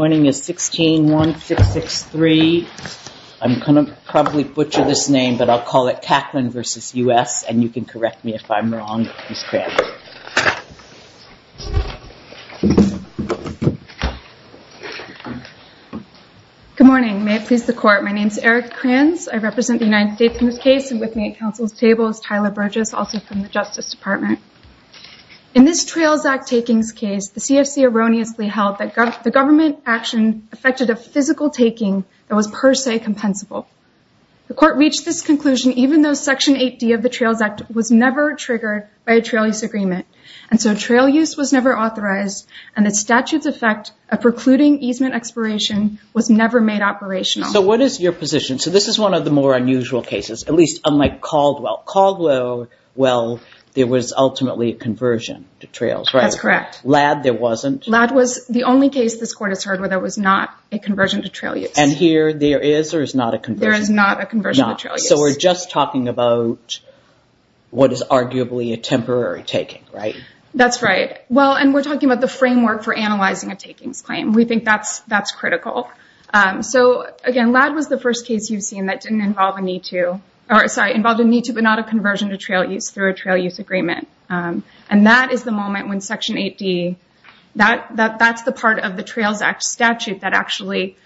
My name is 161663. I'm going to probably butcher this name, but I'll call it Kaquelin v. U.S. and you can correct me if I'm wrong, Ms. Kranz. Good morning, may it please the court. My name is Eric Kranz. I represent the United States in this case and with me at council's table is Tyler Burgess, also from the Justice Department. In this Trails Act takings case, the CFC erroneously held that the government action affected a physical taking that was per se compensable. The court reached this conclusion even though Section 8D of the Trails Act was never triggered by a trail use agreement and so trail use was never authorized and the statute's effect of precluding easement expiration was never made operational. So what is your position? So this is one of the more unusual cases, at least unlike Caldwell. Caldwell, well, there was ultimately a conversion to trails, right? That's correct. Ladd, there wasn't? Ladd was the only case this court has heard where there was not a conversion to trail use. And here, there is or is not a conversion? There is not a conversion to trail use. So we're just talking about what is arguably a temporary taking, right? That's right. Well, and we're talking about the framework for analyzing a takings claim. We think that's critical. So again, Ladd was the first case you've seen that didn't involve a need to, or sorry, involved a need to but not conversion to trail use through a trail use agreement. And that is the moment when Section 8D, that's the part of the Trails Act statute that actually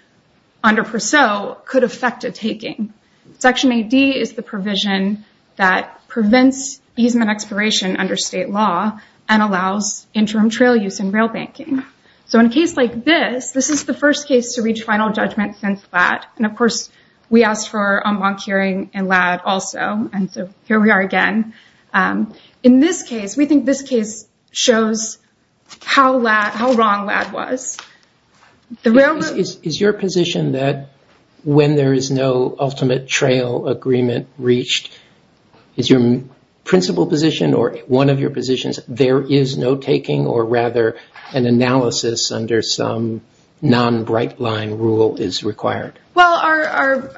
under Per Se could affect a taking. Section 8D is the provision that prevents easement expiration under state law and allows interim trail use and rail banking. So in a case like this, this is the first case to reach final judgment since Ladd. And of course, we asked for a monk hearing in Ladd also. And so here we are again. In this case, we think this case shows how wrong Ladd was. The railroad- Is your position that when there is no ultimate trail agreement reached, is your principal position or one of your positions, there is no taking or rather an analysis under some non-brightline rule is required? Well,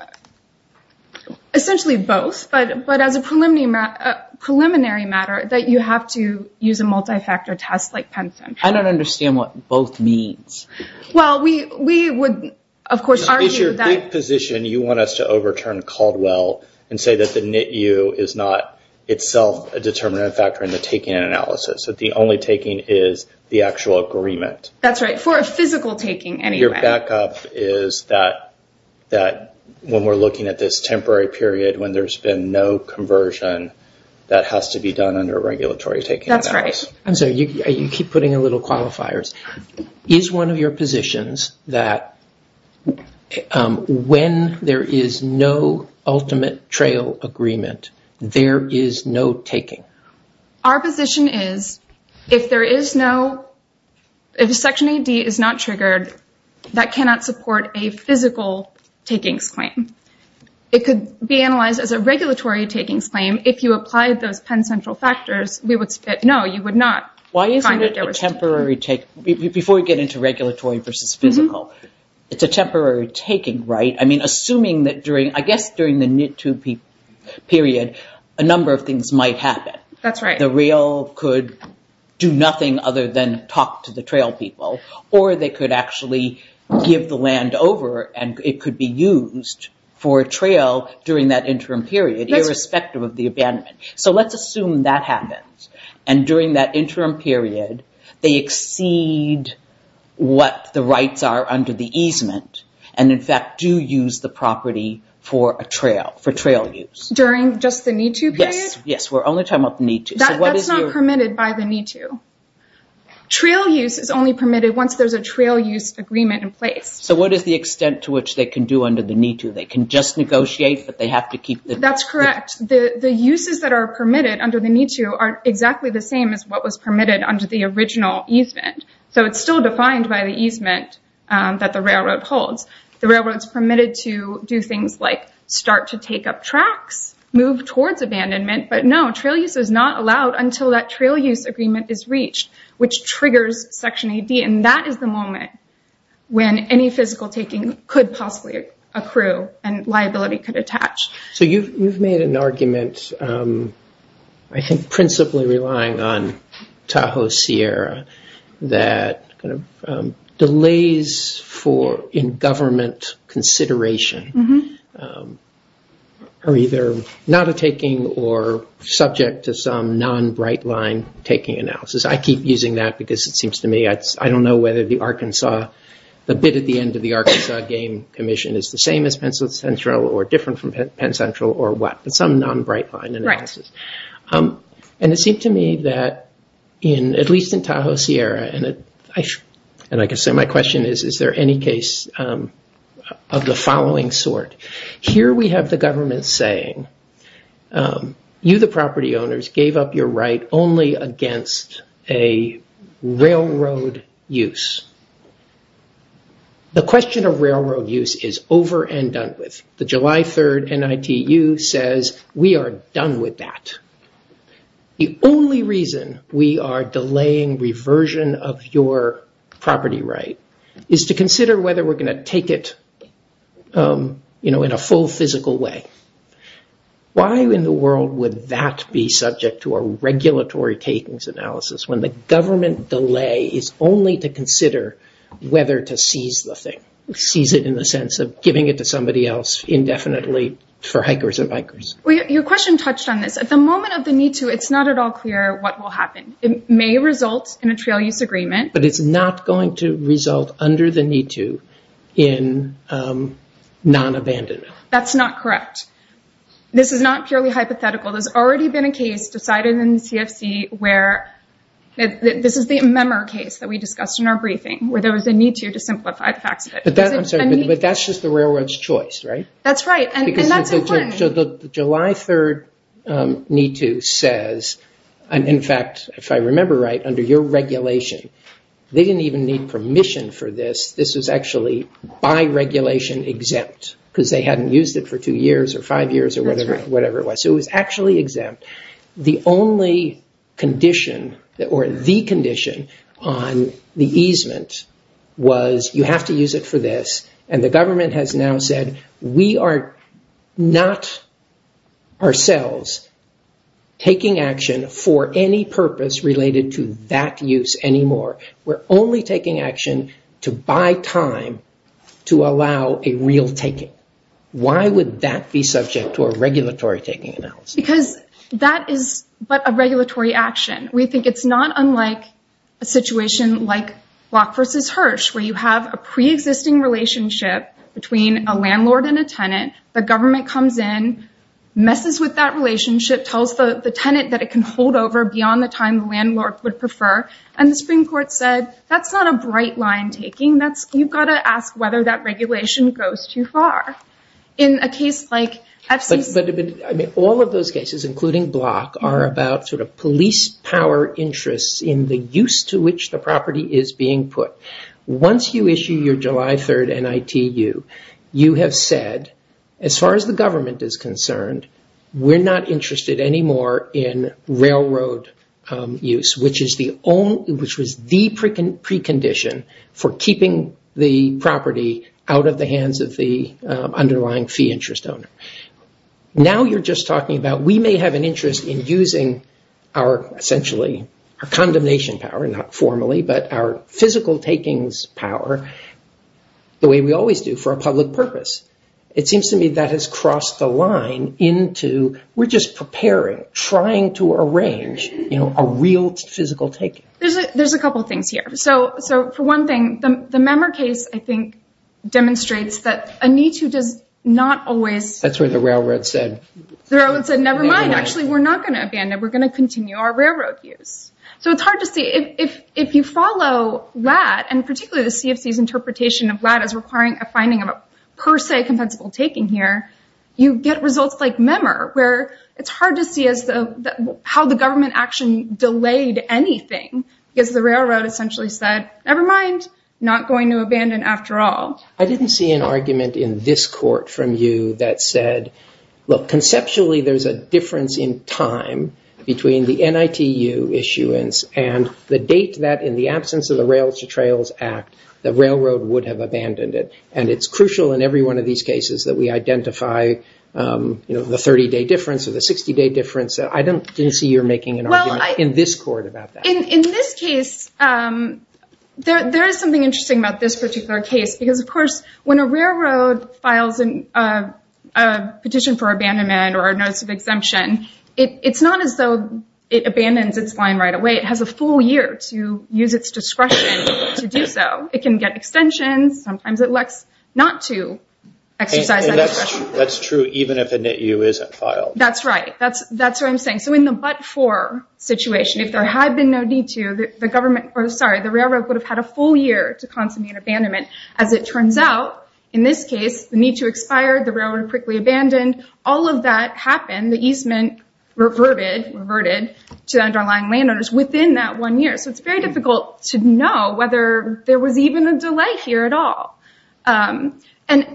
essentially both. But as a preliminary matter, that you have to use a multi-factor test like Penston. I don't understand what both means. Well, we would of course argue that- It's your position, you want us to overturn Caldwell and say that the NITU is not itself a determinant factor in the taking analysis, that the only is the actual agreement. That's right. For a physical taking anyway. Your backup is that when we're looking at this temporary period, when there's been no conversion, that has to be done under a regulatory taking analysis. That's right. I'm sorry. You keep putting a little qualifiers. Is one of your positions that when there is no ultimate trail agreement, there is no taking? Our position is, if section AD is not triggered, that cannot support a physical takings claim. It could be analyzed as a regulatory takings claim if you applied those Penn Central factors. No, you would not. Why isn't it a temporary take? Before we get into regulatory versus physical, it's a temporary taking, right? I mean, period, a number of things might happen. That's right. The rail could do nothing other than talk to the trail people, or they could actually give the land over and it could be used for a trail during that interim period, irrespective of the abandonment. Let's assume that happens. During that interim period, they exceed what the rights are under the easement, and in fact, do use the property for a trail, for trail use. During just the need-to period? Yes. We're only talking about the need-to. That's not permitted by the need-to. Trail use is only permitted once there's a trail use agreement in place. What is the extent to which they can do under the need-to? They can just negotiate, but they have to keep the... That's correct. The uses that are permitted under the need-to are exactly the same as what was permitted under the original easement. It's still defined by the easement that the railroad holds. The railroad's permitted to do things like start to take up tracks, move towards abandonment, but no, trail use is not allowed until that trail use agreement is reached, which triggers Section 80. That is the moment when any physical taking could possibly accrue and liability could attach. You've made an argument, I think principally relying on Tahoe Sierra, that delays in government consideration are either not a taking or subject to some non-brightline taking analysis. I keep using that because it seems to me I don't know whether the Arkansas... The bid at the end of the Arkansas Game Commission is the same as Penn Central or different from Penn Central or what, but some non-brightline analysis. It seemed to me that, at least in Tahoe Sierra, and I can say my question is, is there any case of the following sort? Here we have the government saying, you, the property owners, gave up your right only against a railroad use. The question of railroad use is over and done with. The July 3rd NITU says we are done with that. The only reason we are delaying reversion of your property right is to consider whether we're going to take it in a full physical way. Why in the world would that be subject to a regulatory takings analysis when the government delay is only to consider whether to seize the thing, seize it in the sense of giving it to somebody else indefinitely for hikers and bikers? Your question touched on this. At the moment of the NITU, it's not at all clear what will happen. It may result in a trail use agreement. It's not going to result under the NITU in non-abandonment. That's not correct. This is not purely hypothetical. There's already been a case decided in the CFC where, this is the Memmer case that we discussed in our briefing, where there was a NITU to simplify the facts of it. I'm sorry, but that's just the railroad's choice, right? That's right. That's important. July 3rd NITU says, and in fact, if I remember right, under your regulation, they didn't even need permission for this. This was actually by regulation exempt because they hadn't used it for two years or five years or whatever it was. It was actually exempt. The only condition or the condition on the easement was you have to use it for this. The government has now said, we are not ourselves taking action for any purpose related to that use anymore. We're only taking action to buy time to allow a real taking. Why would that be subject to a regulatory taking analysis? Because that is but a regulatory action. We think it's not unlike a situation like Block v. Hirsch, where you have a pre-existing relationship between a landlord and a tenant. The government comes in, messes with that relationship, tells the tenant that it can hold over beyond the time the landlord would prefer. The Supreme Court said, that's not a bright line taking. You've got to ask whether that regulation goes too far. In a case like FCC- All of those cases, including Block, are about police power interests in the use to which the Once you issue your July 3rd NITU, you have said, as far as the government is concerned, we're not interested anymore in railroad use, which was the precondition for keeping the property out of the hands of the underlying fee interest owner. Now you're just talking about we may have interest in using our condemnation power, not formally, but our physical takings power, the way we always do for a public purpose. It seems to me that has crossed the line into, we're just preparing, trying to arrange a real physical taking. There's a couple of things here. For one thing, the Memmer case demonstrates that a NITU does not always- That's where the railroad said- We're not going to abandon. We're going to continue our railroad use. So it's hard to see if you follow that, and particularly the CFC's interpretation of that as requiring a finding of a per se compensable taking here, you get results like Memmer, where it's hard to see how the government action delayed anything, because the railroad essentially said, nevermind, not going to abandon after all. I didn't see an argument in this court from you that said, look, conceptually, there's a difference in time between the NITU issuance and the date that in the absence of the Rails to Trails Act, the railroad would have abandoned it. And it's crucial in every one of these cases that we identify the 30-day difference or the 60-day difference. I didn't see you're making an argument in this court about that. In this case, there is something interesting about this particular case, because of course, when a railroad files a petition for abandonment or a notice of exemption, it's not as though it abandons its line right away. It has a full year to use its discretion to do so. It can get extensions. Sometimes it elects not to exercise that discretion. That's true even if a NITU isn't filed. That's right. That's what I'm saying. So in the but-for situation, if there had been no need to, the government, or sorry, the railroad would have had a full year to consummate abandonment. As it turns out, in this case, the need to expire, the railroad quickly abandoned, all of that happened. The easement reverted to the underlying landowners within that one year. So it's very difficult to know whether there was even a delay here at all. And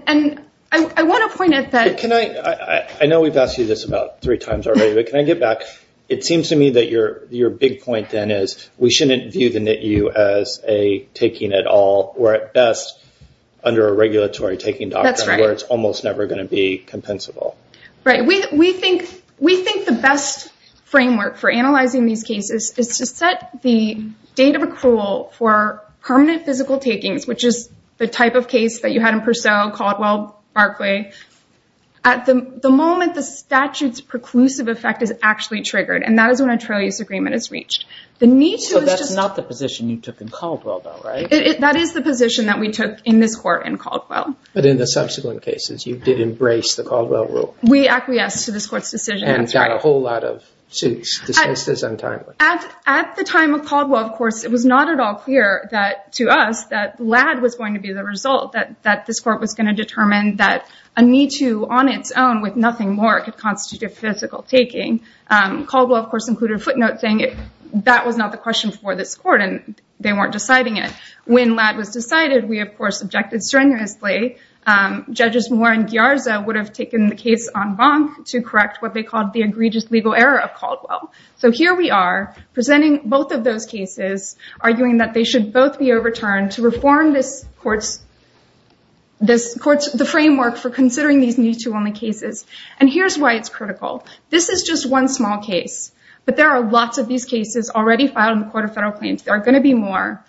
I want to point out that- Can I, I know we've asked you this about three times already, but can I get back? It seems to me that your big point then is we shouldn't view the NITU as a taking it all, or at best, under a regulatory taking doctrine where it's almost never going to be compensable. Right. We think the best framework for analyzing these cases is to set the date of accrual for permanent physical takings, which is the type of case that you had in Purcell, Caldwell, Barclay. At the moment, the statute's preclusive effect is actually triggered, and that is when a trail use agreement is reached. The NITU is just- So that's not the position you took in Caldwell though, right? That is the position that we took in this court in Caldwell. But in the subsequent cases, you did embrace the Caldwell rule. We acquiesced to this court's decision. And got a whole lot of suits dismissed as untimely. At the time of Caldwell, of course, it was not at all clear to us that LAD was going to be the result, that this court was going to determine that a NITU on its own with nothing more could constitute a physical taking. Caldwell, of course, included a footnote saying that was not the court, and they weren't deciding it. When LAD was decided, we, of course, objected strenuously. Judges Moore and Ghiarza would have taken the case en banc to correct what they called the egregious legal error of Caldwell. So here we are, presenting both of those cases, arguing that they should both be overturned to reform this court's framework for considering these NITU-only cases. And here's why it's critical. This is just one small case, but there are lots of these cases already filed in the federal claims. There are going to be more.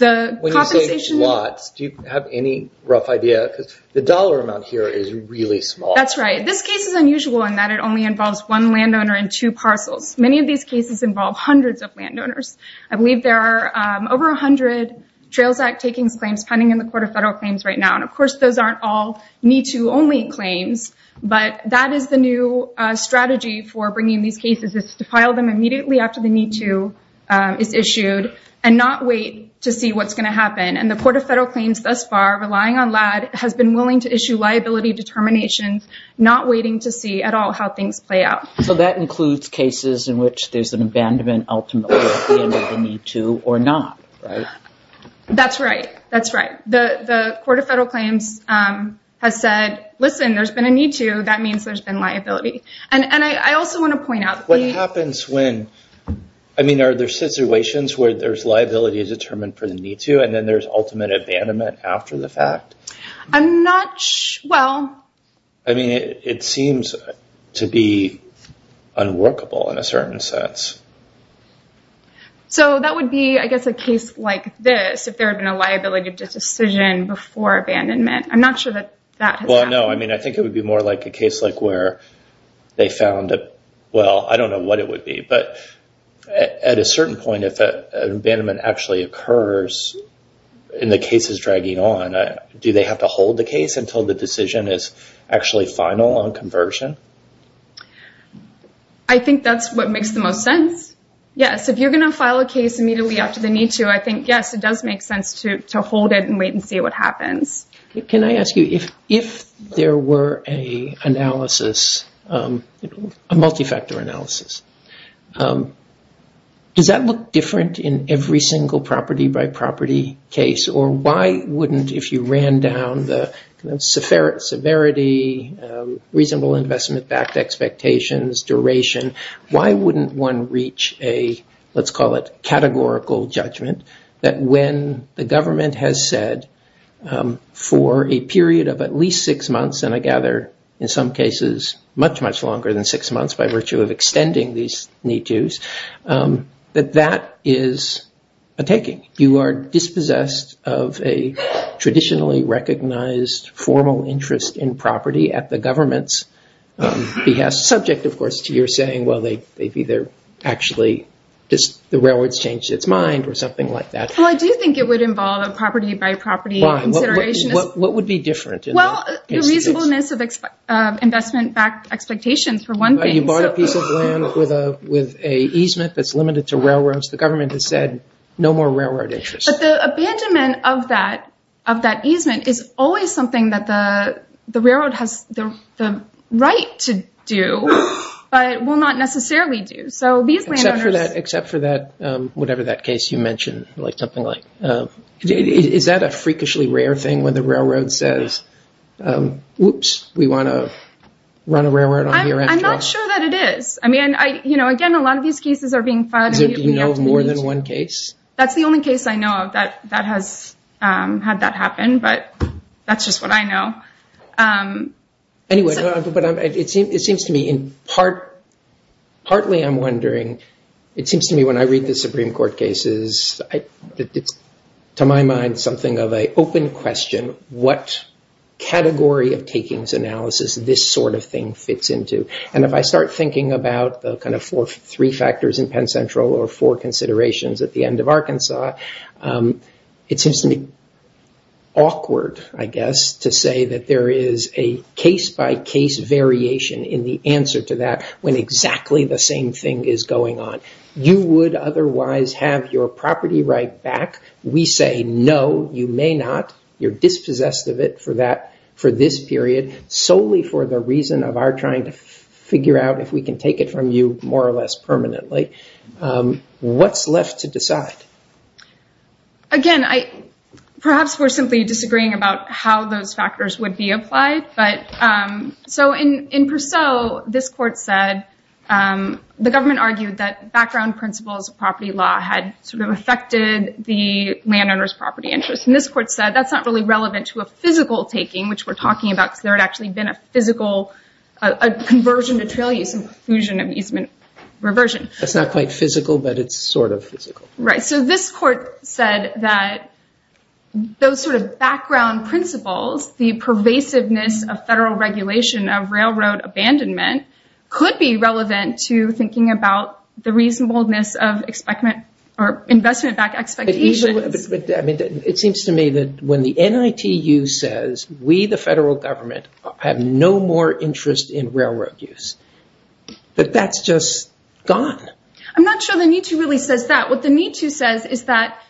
When you say lots, do you have any rough idea? Because the dollar amount here is really small. That's right. This case is unusual in that it only involves one landowner and two parcels. Many of these cases involve hundreds of landowners. I believe there are over 100 Trails Act takings claims pending in the Court of Federal Claims right now. And of course, those aren't all NITU-only claims. But that is the new strategy for bringing these cases is to file them immediately after the NITU is issued and not wait to see what's going to happen. And the Court of Federal Claims thus far, relying on LADD, has been willing to issue liability determinations, not waiting to see at all how things play out. So that includes cases in which there's an abandonment ultimately at the end of the NITU or not, right? That's right. That's right. The Court of Federal Claims has said, listen, there's been a NITU. That means there's been liability. And I also want to point out- What happens when... I mean, are there situations where there's liability determined for the NITU and then there's ultimate abandonment after the fact? I'm not... Well... I mean, it seems to be unworkable in a certain sense. So that would be, I guess, a case like this, if there had been a liability decision before abandonment. I'm not sure that that has happened. Well, no. I mean, I think it would be more like a case like where they found a... Well, I don't know what it would be. But at a certain point, if an abandonment actually occurs and the case is dragging on, do they have to hold the case until the decision is actually final on conversion? I think that's what makes the most sense. Yes. If you're going to file a case immediately after the NITU, I think, yes, it does make sense to hold it and wait and see what happens. Can I ask you, if there were a multi-factor analysis, does that look different in every single property-by-property case? Or why wouldn't, if you ran down the severity, reasonable investment-backed expectations, duration, why wouldn't one reach a, let's call it, categorical judgment that when the government has said for a period of at least six months, and I gather, in some cases, much, much longer than six months by virtue of extending these NITUs, that that is a taking. You are dispossessed of a traditionally recognized formal interest in property at the government's behest, subject, of course, to your saying, well, they've either actually, the railroads changed its mind or something like that. Well, I do think it would involve a property-by-property consideration. What would be different? Well, the reasonableness of investment-backed expectations, for one thing. You bought a piece of land with a easement that's limited to railroads. The government has said, no more railroad interest. But the abandonment of that easement is always something that the railroad has the right to do, but will not necessarily do. So these landowners... Except for that, whatever that case you mentioned, like something like... Is that a freakishly rare thing when the railroad says, whoops, we want to run a railroad on here after all? I'm not sure that it is. I mean, again, a lot of these cases are being filed... Is there more than one case? That's the only case I know of that has had that happen, but that's just what I know. Anyway, it seems to me, partly I'm wondering, it seems to me when I read the Supreme Court cases, it's, to my mind, something of an open question. What category of takings analysis this sort of thing fits into? And if I start thinking about the kind of three factors in Penn Central or four considerations at the end of Arkansas, it seems to me awkward, I guess, to say that there is a case-by-case variation in the answer to that when exactly the same thing is going on. You would otherwise have your property right back. We say, no, you may not. You're dispossessed of it for this period solely for the reason of our trying to figure out if we can take it from you more or less permanently. What's left to decide? Again, perhaps we're simply disagreeing about how those factors would be applied. So in Purcell, this court said, the government argued that background principles of property law had sort of affected the landowner's property interests. And this court said, that's not really relevant to a physical taking, which we're talking about, because there had actually been a physical conversion to trail use and fusion of easement reversion. That's not quite physical, but it's sort of physical. Right. So this court said that those sort of background principles, the pervasiveness of federal regulation of railroad abandonment, could be relevant to thinking about the reasonableness of investment-backed expectations. It seems to me that when the NITU says, we, the federal government, have no more interest in railroad use, that that's just gone. I'm not sure the NITU really says that. What the NITU says is that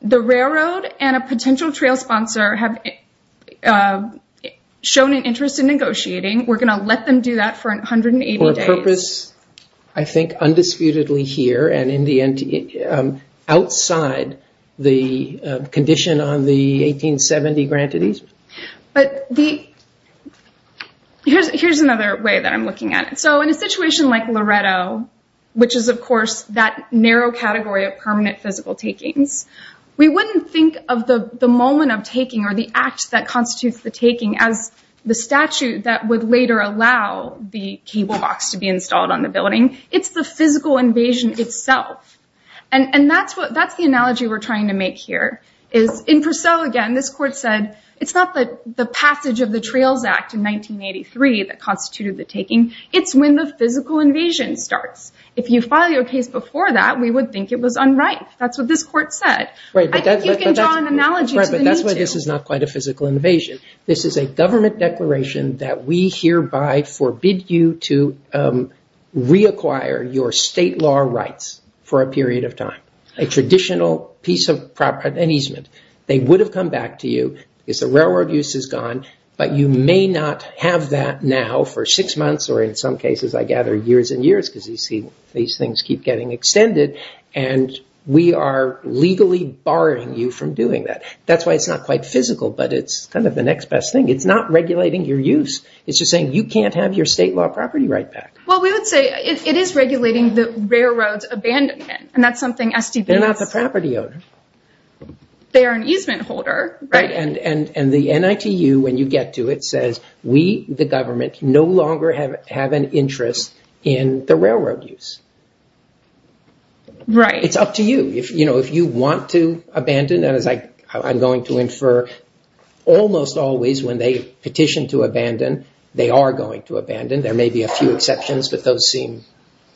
the railroad and a potential trail sponsor have shown an interest in negotiating. We're going to let them do that for 180 days. For a purpose, I think, undisputedly here and outside the condition on the 1870 granted easement. But here's another way that I'm looking at it. In a situation like Loretto, which is, of course, that narrow category of permanent physical takings, we wouldn't think of the moment of taking or the act that constitutes the taking as the statute that would later allow the cable box to be installed on the building. It's the physical invasion itself. And that's the analogy we're trying to make here, is in Purcell, again, this court said, it's not the passage of the Trails Act in 1983 that constituted the taking. It's when the physical invasion starts. If you file your case before that, we would think it was unright. That's what this court said. I think you can draw an analogy to the NITU. Right, but that's why this is not quite a physical invasion. This is a government declaration that we hereby forbid you to reacquire your state law rights for a period of time. A traditional piece of property, an easement. They would have come back to you because the railroad use is gone. But you may not have that now for six months, or in some cases, I gather, years and years, because you see these things keep getting extended. And we are legally barring you from doing that. That's why it's not quite physical, but it's kind of the next best thing. It's not regulating your use. It's just saying, you can't have your state law property right back. Well, we would say it is regulating the railroad's abandonment. And that's something SDBs- They're not the property owner. They are an easement holder, right? And the NITU, when you get to it, says, we, the government, no longer have an interest in the railroad use. Right. It's up to you. If you want to abandon, and as I'm going to infer, almost always when they petition to abandon, they are going to abandon. There may be a few exceptions, but those seem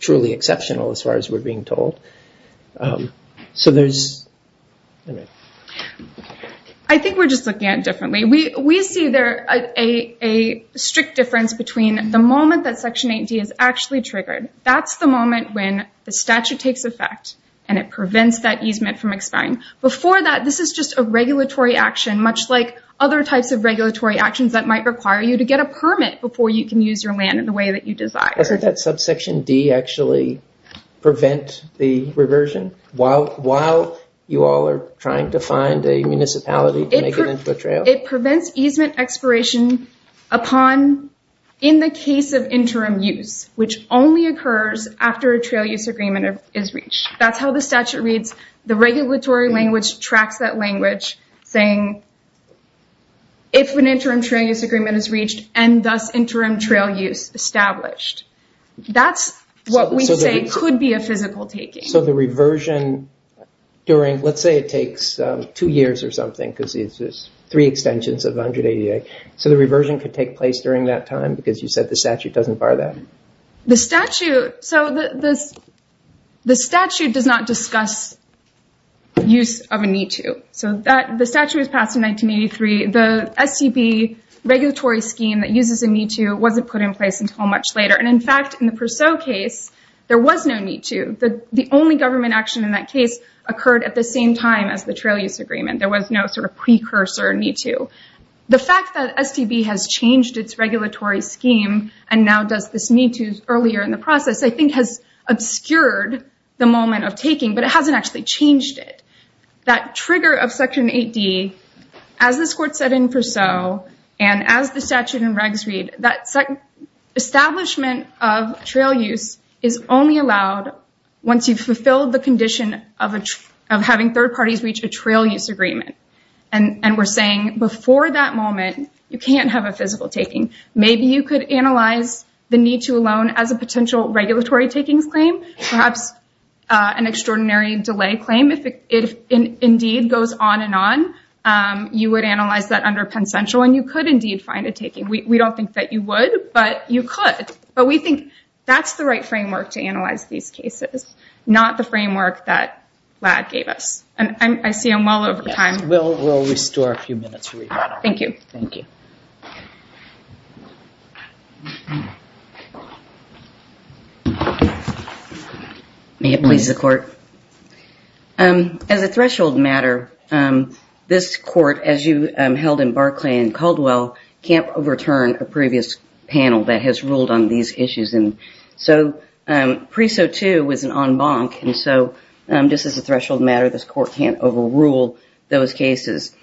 truly exceptional as far as we're being told. I think we're just looking at it differently. We see there a strict difference between the moment that Section 8D is actually triggered. That's the moment when the statute takes effect, and it prevents that easement from expiring. Before that, this is just a regulatory action, much like other types of regulatory actions that might require you to get a permit before you can use your land in the way that you desire. While you all are trying to find a municipality to make it into a trail. It prevents easement expiration upon, in the case of interim use, which only occurs after a trail use agreement is reached. That's how the statute reads. The regulatory language tracks that language saying, if an interim trail use agreement is reached and thus interim trail use established. That's what we say could be a physical taking. The reversion during, let's say it takes two years or something, because it's just three extensions of 188. The reversion could take place during that time, because you said the statute doesn't bar that? The statute does not discuss use of a need to. The statute was passed in 1983. The SCB regulatory scheme that uses a need to wasn't put in place until much later. In fact, in the Purcell case, there was no need to. The only government action in that case occurred at the same time as the trail use agreement. There was no sort of precursor need to. The fact that STB has changed its regulatory scheme and now does this need to earlier in the process, I think has obscured the moment of taking, but it hasn't actually changed it. That trigger of section 8D, as this court set in Purcell, and as the statute and regs read, that establishment of trail use is only allowed once you've fulfilled the condition of having third parties reach a trail use agreement. And we're saying before that moment, you can't have a physical taking. Maybe you could analyze the need to alone as a potential regulatory takings claim, perhaps an extraordinary delay claim. If it indeed goes on and on, you would analyze that under Penn Central, and you could indeed find a taking. We don't think that you would, but you could. But we think that's the right framework to analyze these cases, not the framework that Ladd gave us. And I see I'm well over time. We'll restore a few minutes. Thank you. Thank you. May it please the court. As a threshold matter, this court, as you held in Barclay and Caldwell, can't overturn a previous panel that has ruled on these issues. And so PRESO 2 was an en banc. And so just as a threshold matter, this court can't overrule those cases.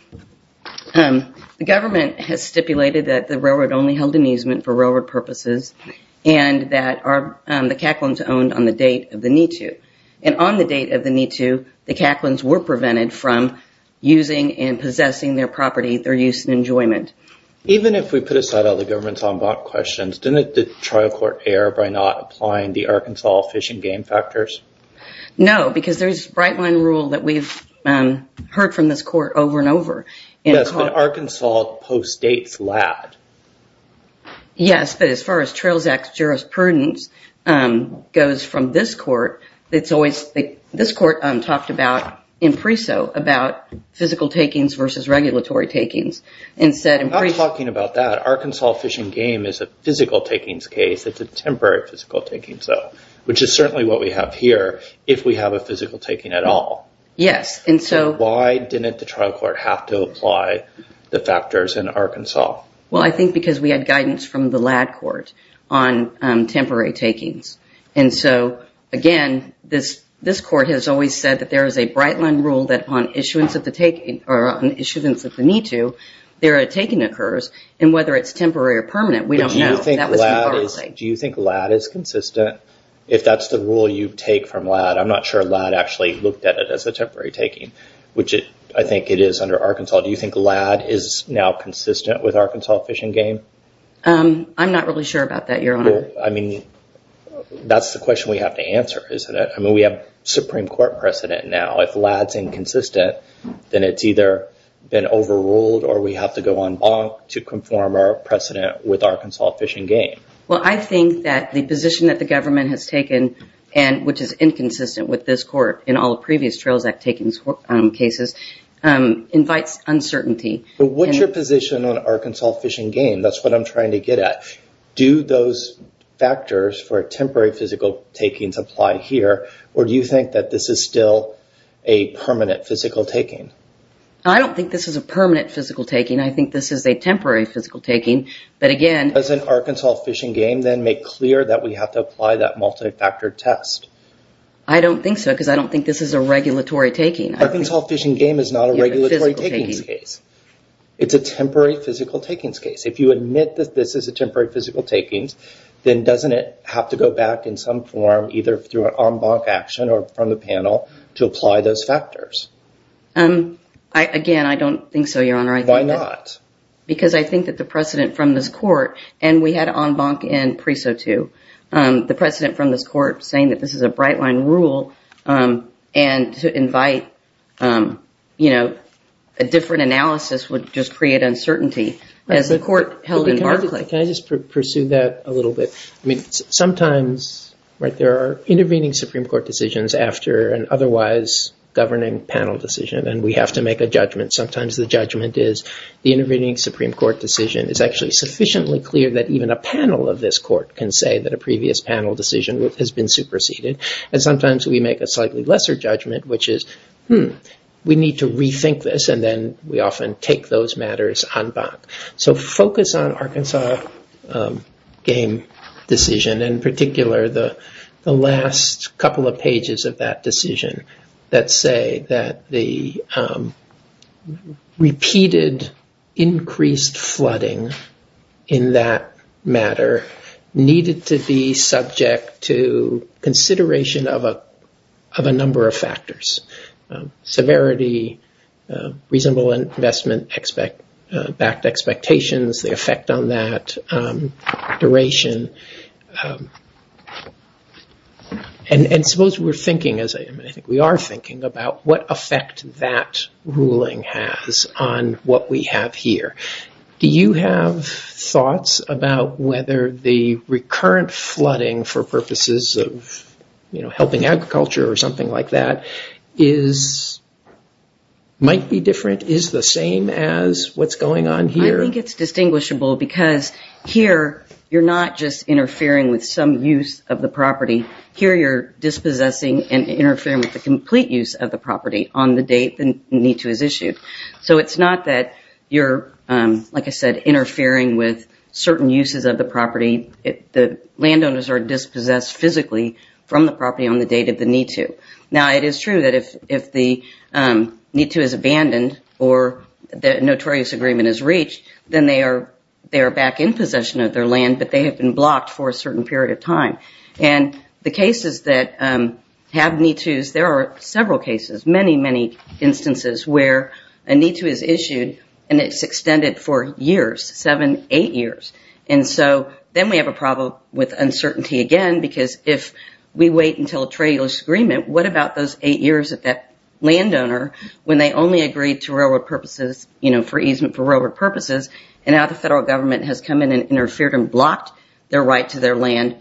The government has stipulated that the railroad only held an easement for railroad purposes and that the Caklins owned on the date of the NITU. And on the date of the NITU, the Caklins were prevented from using and possessing their property, their use and enjoyment. Even if we put aside all the government's en banc questions, didn't the trial court err by not applying the Arkansas fishing game factors? No, because there's a bright line rule that we've heard from this court over and over. Yes, but Arkansas postdates Ladd. Yes, but as far as Trails Act jurisprudence goes from this court, this court talked about, in PRESO, about physical takings versus regulatory takings. I'm not talking about that. Arkansas fishing game is a physical takings case. It's a temporary physical takings, though, which is certainly what we have here if we have a physical taking at all. Yes, and so... Why didn't the trial court have to apply the factors in Arkansas? Well, I think because we had guidance from the Ladd court on temporary takings. And so, again, this court has always said that there is a bright line rule that on issuance of the need to, there a taking occurs. And whether it's temporary or permanent, we don't know. Do you think Ladd is consistent? If that's the rule you take from Ladd, I'm not sure Ladd actually looked at it as a temporary taking, which I think it is under Arkansas. Do you think Ladd is now consistent with Arkansas fishing game? I'm not really sure about that, Your Honor. I mean, that's the question we have to answer, isn't it? I mean, we have Supreme Court precedent now. If Ladd's inconsistent, then it's either been overruled or we have to go on bonk to conform our precedent with Arkansas fishing game. Well, I think that the position that the government has taken, and which is inconsistent with this court in all the previous Trails Act takings cases, invites uncertainty. But what's your position on Arkansas fishing game? That's what I'm trying to get at. Do those factors for temporary physical takings apply here? Or do you think that this is still a permanent physical taking? I don't think this is a permanent physical taking. I think this is a temporary physical taking. But again... Does an Arkansas fishing game then make clear that we have to apply that multi-factor test? I don't think so, because I don't think this is a regulatory taking. Arkansas fishing game is not a regulatory takings case. It's a temporary physical takings case. If you admit that this is a temporary physical takings, then doesn't it have to go back in some form, either through an en banc action or from the panel, to apply those factors? Again, I don't think so, Your Honor. Why not? Because I think that the precedent from this court, and we had en banc in Preso 2, the precedent from this court saying that this is a bright line rule, and to invite a different analysis would just create uncertainty, as the court held in Barclay. Can I just pursue that a little bit? Sometimes there are intervening Supreme Court decisions after an otherwise governing panel decision, and we have to make a judgment. Sometimes the judgment is the intervening Supreme Court decision is actually sufficiently clear that even a panel of this court can say that a previous panel decision has been superseded. And sometimes we make a slightly lesser judgment, which is, we need to rethink this, and then we often take those matters en banc. So focus on Arkansas' game decision, in particular the last couple of pages of that decision, that say that the repeated increased flooding in that matter needed to be subject to consideration of a number of factors. Severity, reasonable investment, backed expectations, the effect on that, duration. And suppose we're thinking, as I think we are thinking, about what effect that ruling has on what we have here. Do you have thoughts about whether the recurrent flooding for purposes of helping agriculture or something like that is, might be different, is the same as what's going on here? I think it's distinguishable because here, you're not just interfering with some use of the property. Here, you're dispossessing and interfering with the complete use of the property on the date the need to is issued. So it's not that you're, like I said, interfering with certain uses of the property. The landowners are dispossessed physically from the property on the date of the need to. Now, it is true that if the need to is abandoned or the notorious agreement is reached, then they are back in possession of their land, but they have been blocked for a certain period of time. And the cases that have need tos, there are several cases, many, many instances where a need to is issued and it's extended for years, seven, eight years. And so then we have a problem with uncertainty again because if we wait until a trade agreement, what about those eight years that that landowner, when they only agreed to railroad purposes, you know, for easement for railroad purposes, and now the federal government has come in and interfered and blocked their right to their land.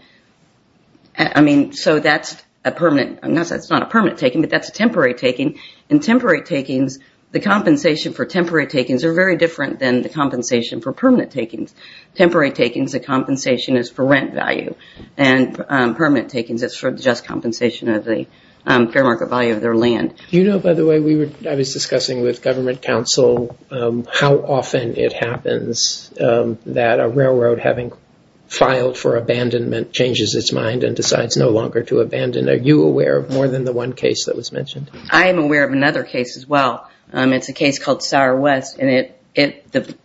I mean, so that's a permanent, I'm not saying it's not a permanent taking, but that's a temporary taking. And temporary takings, the compensation for temporary takings are very different than the compensation for permanent takings. Temporary takings, the compensation is for rent value. And permanent takings is for just compensation of the fair market value of their land. Do you know, by the way, we were, I was discussing with government counsel how often it happens that a railroad, having filed for abandonment, changes its mind and decides no longer to abandon. Are you aware of more than the one case that was mentioned? I am aware of another case as well. It's a case called Sour West, and the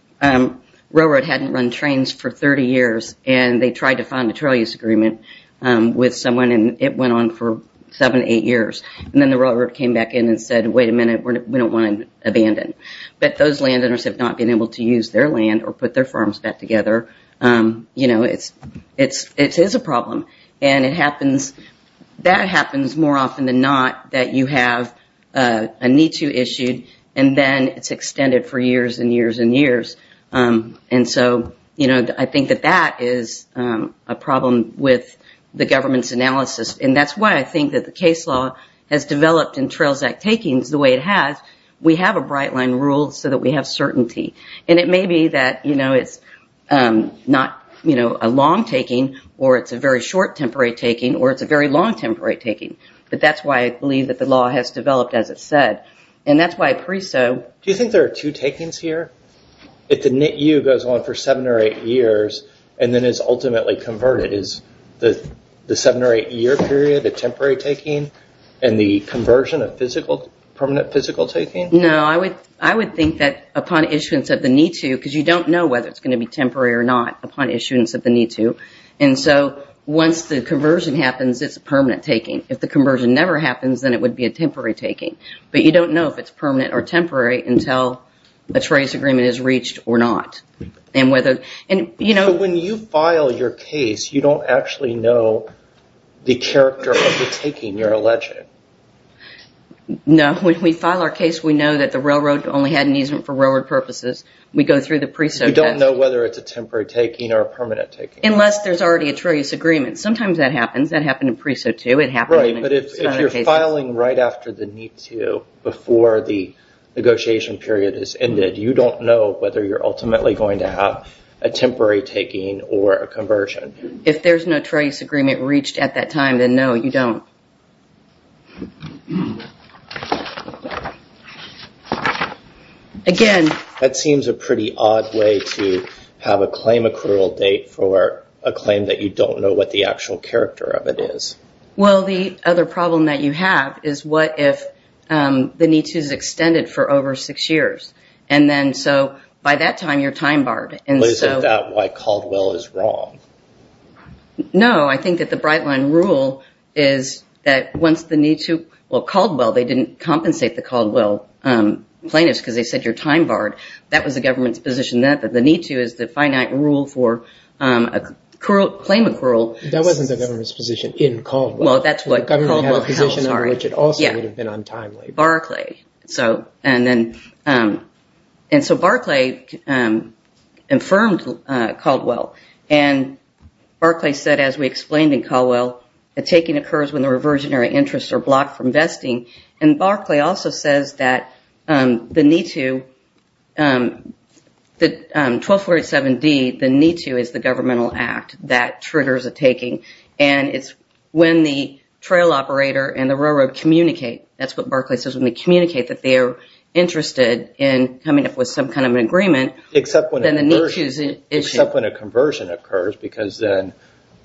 railroad hadn't run trains for 30 years and they tried to find a trail use agreement with someone and it went on for seven, eight years. And then the railroad came back in and said, wait a minute, we don't want to abandon. But those landowners have not been able to use their land or put their farms back together. You know, it is a problem. And it happens, that happens more often than not that you have a need to issue and then it's extended for years and years and years. And so, you know, I think that that is a problem with the government's analysis. And that's why I think that the case law has developed in Trails Act takings the way it has. We have a bright line rule so that we have certainty. And it may be that, you know, it's not, you know, a long taking or it's a very short temporary taking or it's a very long temporary taking. But that's why I believe that the law has developed, as it said. And that's why preso. Do you think there are two takings here? If the NITU goes on for seven or eight years and then is ultimately converted, is the seven or eight year period a temporary taking and the conversion a physical, permanent physical taking? No, I would think that upon issuance of the NITU, because you don't know whether it's going to be temporary or not upon issuance of the NITU. And so once the conversion happens, it's a permanent taking. If the conversion never happens, But you don't know if it's permanent or temporary until a treacherous agreement is reached or not. When you file your case, you don't actually know the character of the taking you're alleging. No, when we file our case, we know that the railroad only had an easement for railroad purposes. We go through the preso test. You don't know whether it's a temporary taking or a permanent taking. Unless there's already a treacherous agreement. Sometimes that happens. That happened in preso too. Right, but if you're filing right after the NITU before the negotiation period is ended, you don't know whether you're ultimately going to have a temporary taking or a conversion. If there's no treacherous agreement reached at that time, then no, you don't. Again, that seems a pretty odd way to have a claim accrual date for a claim that you don't know what the actual character of it is. Well, the other problem that you have is what if the NITU is extended for over six years? By that time, you're time barred. Well, isn't that why Caldwell is wrong? No, I think that the Brightline rule is that once the NITU, well, Caldwell, they didn't compensate the Caldwell plaintiffs because they said you're time barred. That was the government's position then, that the NITU is the finite rule for a claim accrual. That wasn't the government's position in Caldwell. Well, that's what Caldwell held. Which it also would have been untimely. Barclay, and so Barclay infirmed Caldwell. And Barclay said, as we explained in Caldwell, a taking occurs when the reversionary interests are blocked from vesting. And Barclay also says that the NITU, the 1247D, the NITU is the governmental act that triggers a taking. And it's when the trail operator and the railroad communicate, that's what Barclay says, when they communicate that they are interested in coming up with some kind of an agreement. Except when a conversion occurs because then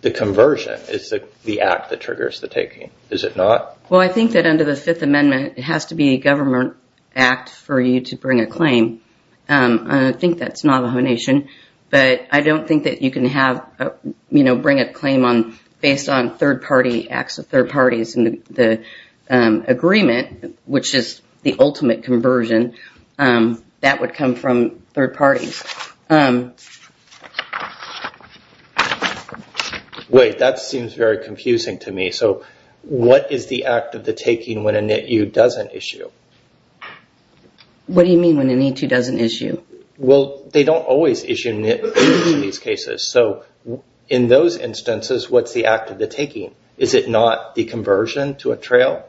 the conversion is the act that triggers the taking. Is it not? Well, I think that under the Fifth Amendment, it has to be a government act for you to bring a claim. And I think that's Navajo Nation. But I don't think that you can have, you know, bring a claim on, based on third party acts of third parties and the agreement, which is the ultimate conversion, that would come from third parties. Wait, that seems very confusing to me. So what is the act of the taking when a NITU doesn't issue? What do you mean when a NITU doesn't issue? Well, they don't always issue NITUs in these cases. So in those instances, what's the act of the taking? Is it not the conversion to a trail?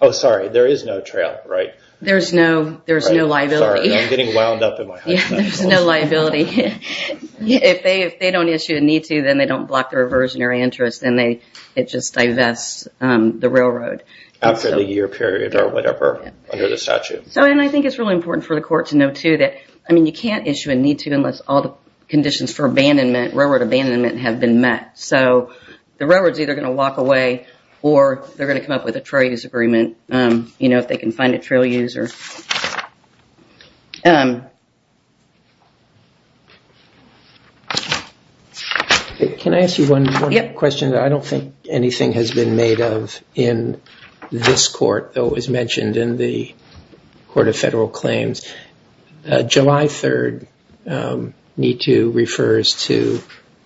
Oh, sorry, there is no trail, right? There's no liability. I'm getting wound up in my hypotheticals. Yeah, there's no liability. If they don't issue a NITU, then they don't block the reversionary interest and it just divests the railroad. After the year period or whatever under the statute. And I think it's really important for the court to know too that, I mean, you can't issue a NITU unless all the conditions for railroad abandonment have been met. So the railroad is either going to walk away or they're going to come up with a trade disagreement if they can find a trail user. Can I ask you one question? I don't think anything has been made of in this court that was mentioned in the Court of Federal Claims. July 3rd NITU refers to,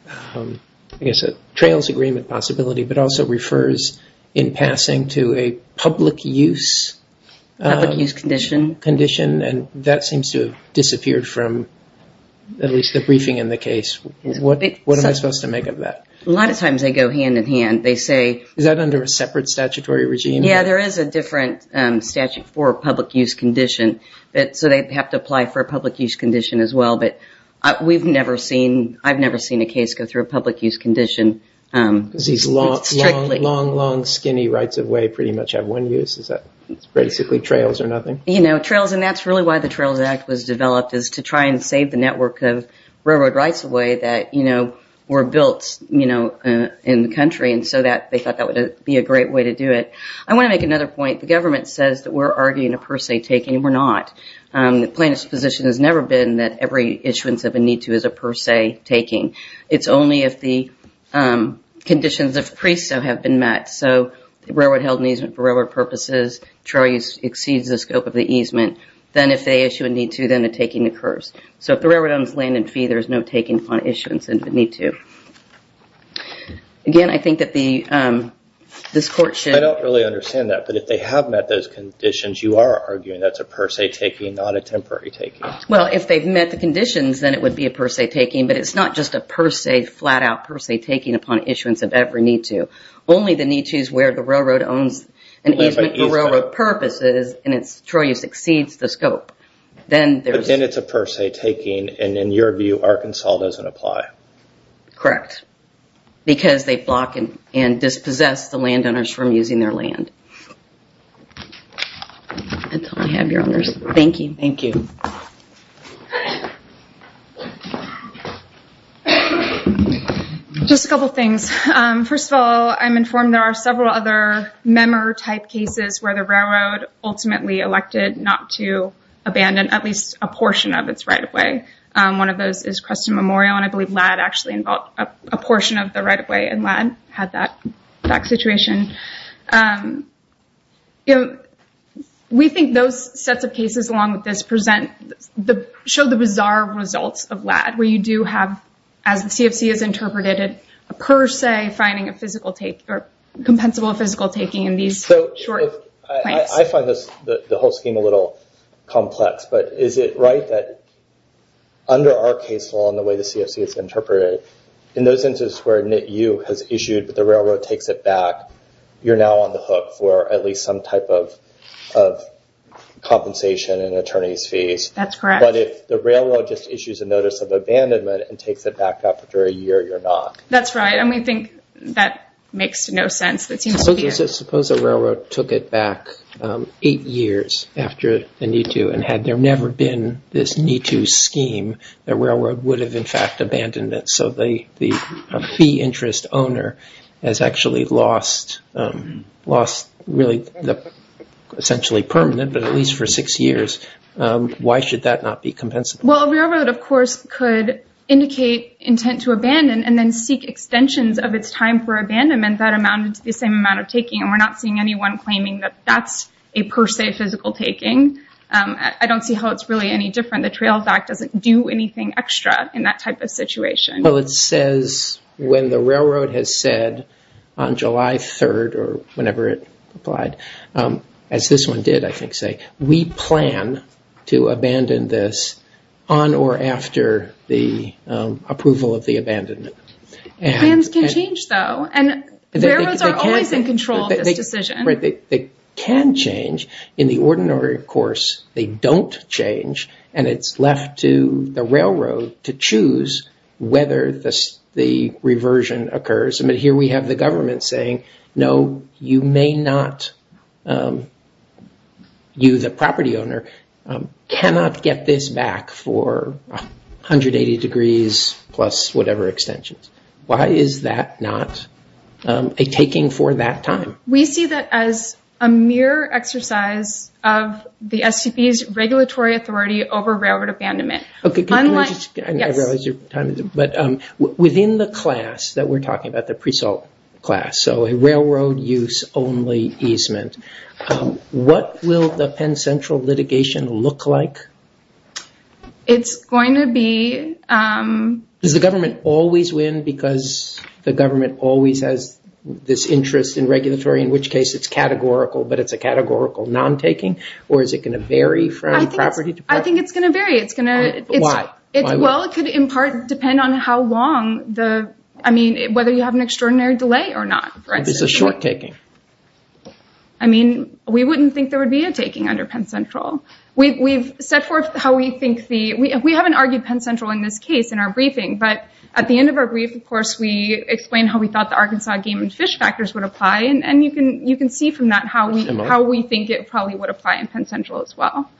I guess, a trails agreement possibility, but also refers in passing to a public use... Public use condition. ...condition. And that seems to have disappeared from at least the briefing in the case. What am I supposed to make of that? A lot of times they go hand in hand. They say... Is that under a separate statutory regime? Yeah, there is a different statute for public use condition. So they have to apply for a public use condition as well. But I've never seen a case go through a public use condition. Because these long, long, long, long, skinny rights-of-way pretty much have one use. Is that basically trails or nothing? You know, trails. And that's really why the Trails Act was developed, is to try and save the network of railroad rights-of-way that were built in the country. And so they thought that would be a great way to do it. I want to make another point. The government says that we're arguing a per se taking. The plaintiff's position has never been that every issuance of a need-to is a per se taking. It's only if the conditions of preso have been met. So the railroad held an easement for railroad purposes. Trails exceeds the scope of the easement. Then if they issue a need-to, then a taking occurs. So if the railroad owns land and fee, there's no taking on issuance of a need-to. Again, I think that this court should... I don't really understand that. But if they have met those conditions, you are arguing that's a per se taking, not a temporary taking. Well, if they've met the conditions, then it would be a per se taking. But it's not just a per se, flat-out per se taking upon issuance of every need-to. Only the need-to is where the railroad owns an easement for railroad purposes, and it's trail use exceeds the scope. But then it's a per se taking, and in your view, Arkansas doesn't apply. Correct. Because they block and dispossess the landowners from using their land. That's all I have, Your Honors. Thank you. Thank you. Just a couple of things. First of all, I'm informed there are several other member-type cases where the railroad ultimately elected not to abandon at least a portion of its right-of-way. One of those is Creston Memorial, and I believe LAD actually involved a portion of the right-of-way, and LAD had that situation. We think those sets of cases, along with this, show the bizarre results of LAD, where you do have, as the CFC has interpreted it, a per se finding a physical take, or compensable physical taking in these short plans. I find the whole scheme a little complex, but is it right that under our case law and the way the CFC has interpreted it, in those instances where NITU has issued, but the railroad takes it back, you're now on the hook for at least some type of compensation in attorney's fees. That's correct. But if the railroad just issues a notice of abandonment and takes it back up for a year, you're not. That's right, and we think that makes no sense. Suppose a railroad took it back eight years after the NITU, and had there never been this NITU scheme, the railroad would have, in fact, abandoned it. The fee interest owner has actually lost, really, essentially permanent, but at least for six years. Why should that not be compensable? Well, a railroad, of course, could indicate intent to abandon, and then seek extensions of its time for abandonment. That amounted to the same amount of taking, and we're not seeing anyone claiming that that's a per se physical taking. I don't see how it's really any different. The Trail Fact doesn't do anything extra in that type of situation. Well, it says when the railroad has said, on July 3rd, or whenever it applied, as this one did, I think, say, we plan to abandon this on or after the approval of the abandonment. Plans can change, though, and railroads are always in control of this decision. They can change. In the ordinary course, they don't change, and it's left to the railroad to choose whether the reversion occurs. But here we have the government saying, no, you may not, you, the property owner, cannot get this back for 180 degrees, plus whatever extensions. Why is that not a taking for that time? We see that as a mere exercise of the STP's regulatory authority over railroad abandonment. Can I just, I realize your time is up, but within the class that we're talking about, the pre-salt class, so a railroad use only easement, what will the Penn Central litigation look like? It's going to be... Does the government always win because the government always has this interest in regulatory, in which case it's categorical, but it's a categorical non-taking, or is it going to vary from property to property? I think it's going to vary. Why? Well, it could in part depend on how long the, I mean, whether you have an extraordinary delay or not. This is short-taking. I mean, we wouldn't think there would be a taking under Penn Central. We've set forth how we think the, we haven't argued Penn Central in this case, in our briefing, but at the end of our brief, of course, we explained how we thought the Arkansas game and fish factors would apply, and you can see from that how we think it probably would apply in Penn Central as well.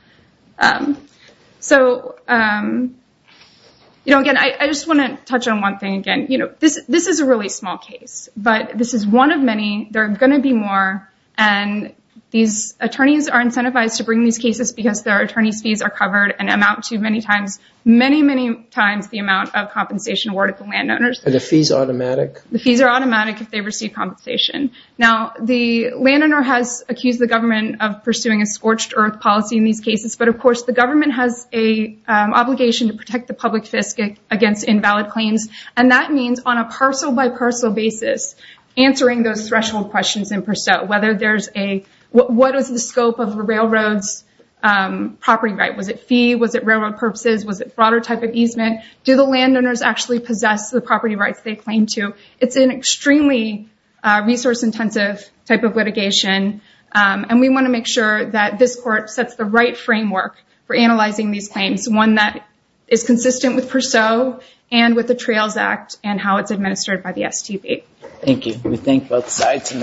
So, you know, again, I just want to touch on one thing. Again, you know, this is a really small case, but this is one of many. There are going to be more, and these attorneys are incentivized to bring these cases because their attorney's fees are covered and amount to many times, many, many times the amount of compensation awarded to landowners. Are the fees automatic? The fees are automatic if they receive compensation. Now, the landowner has accused the government of pursuing a scorched earth policy in these cases, but of course, the government has an obligation to protect the public fiscal against invalid claims, and that means on a parcel by parcel basis, answering those threshold questions in per se, whether there's a, what is the scope of the railroad's property right? Was it fee? Was it railroad purposes? Was it broader type of easement? Do the landowners actually possess the property rights they claim to? It's an extremely resource intensive type of litigation, and we want to make sure that this court sets the right framework for analyzing these claims, one that is consistent with PURSO and with the Trails Act and how it's administered by the STP. Thank you. We thank both sides.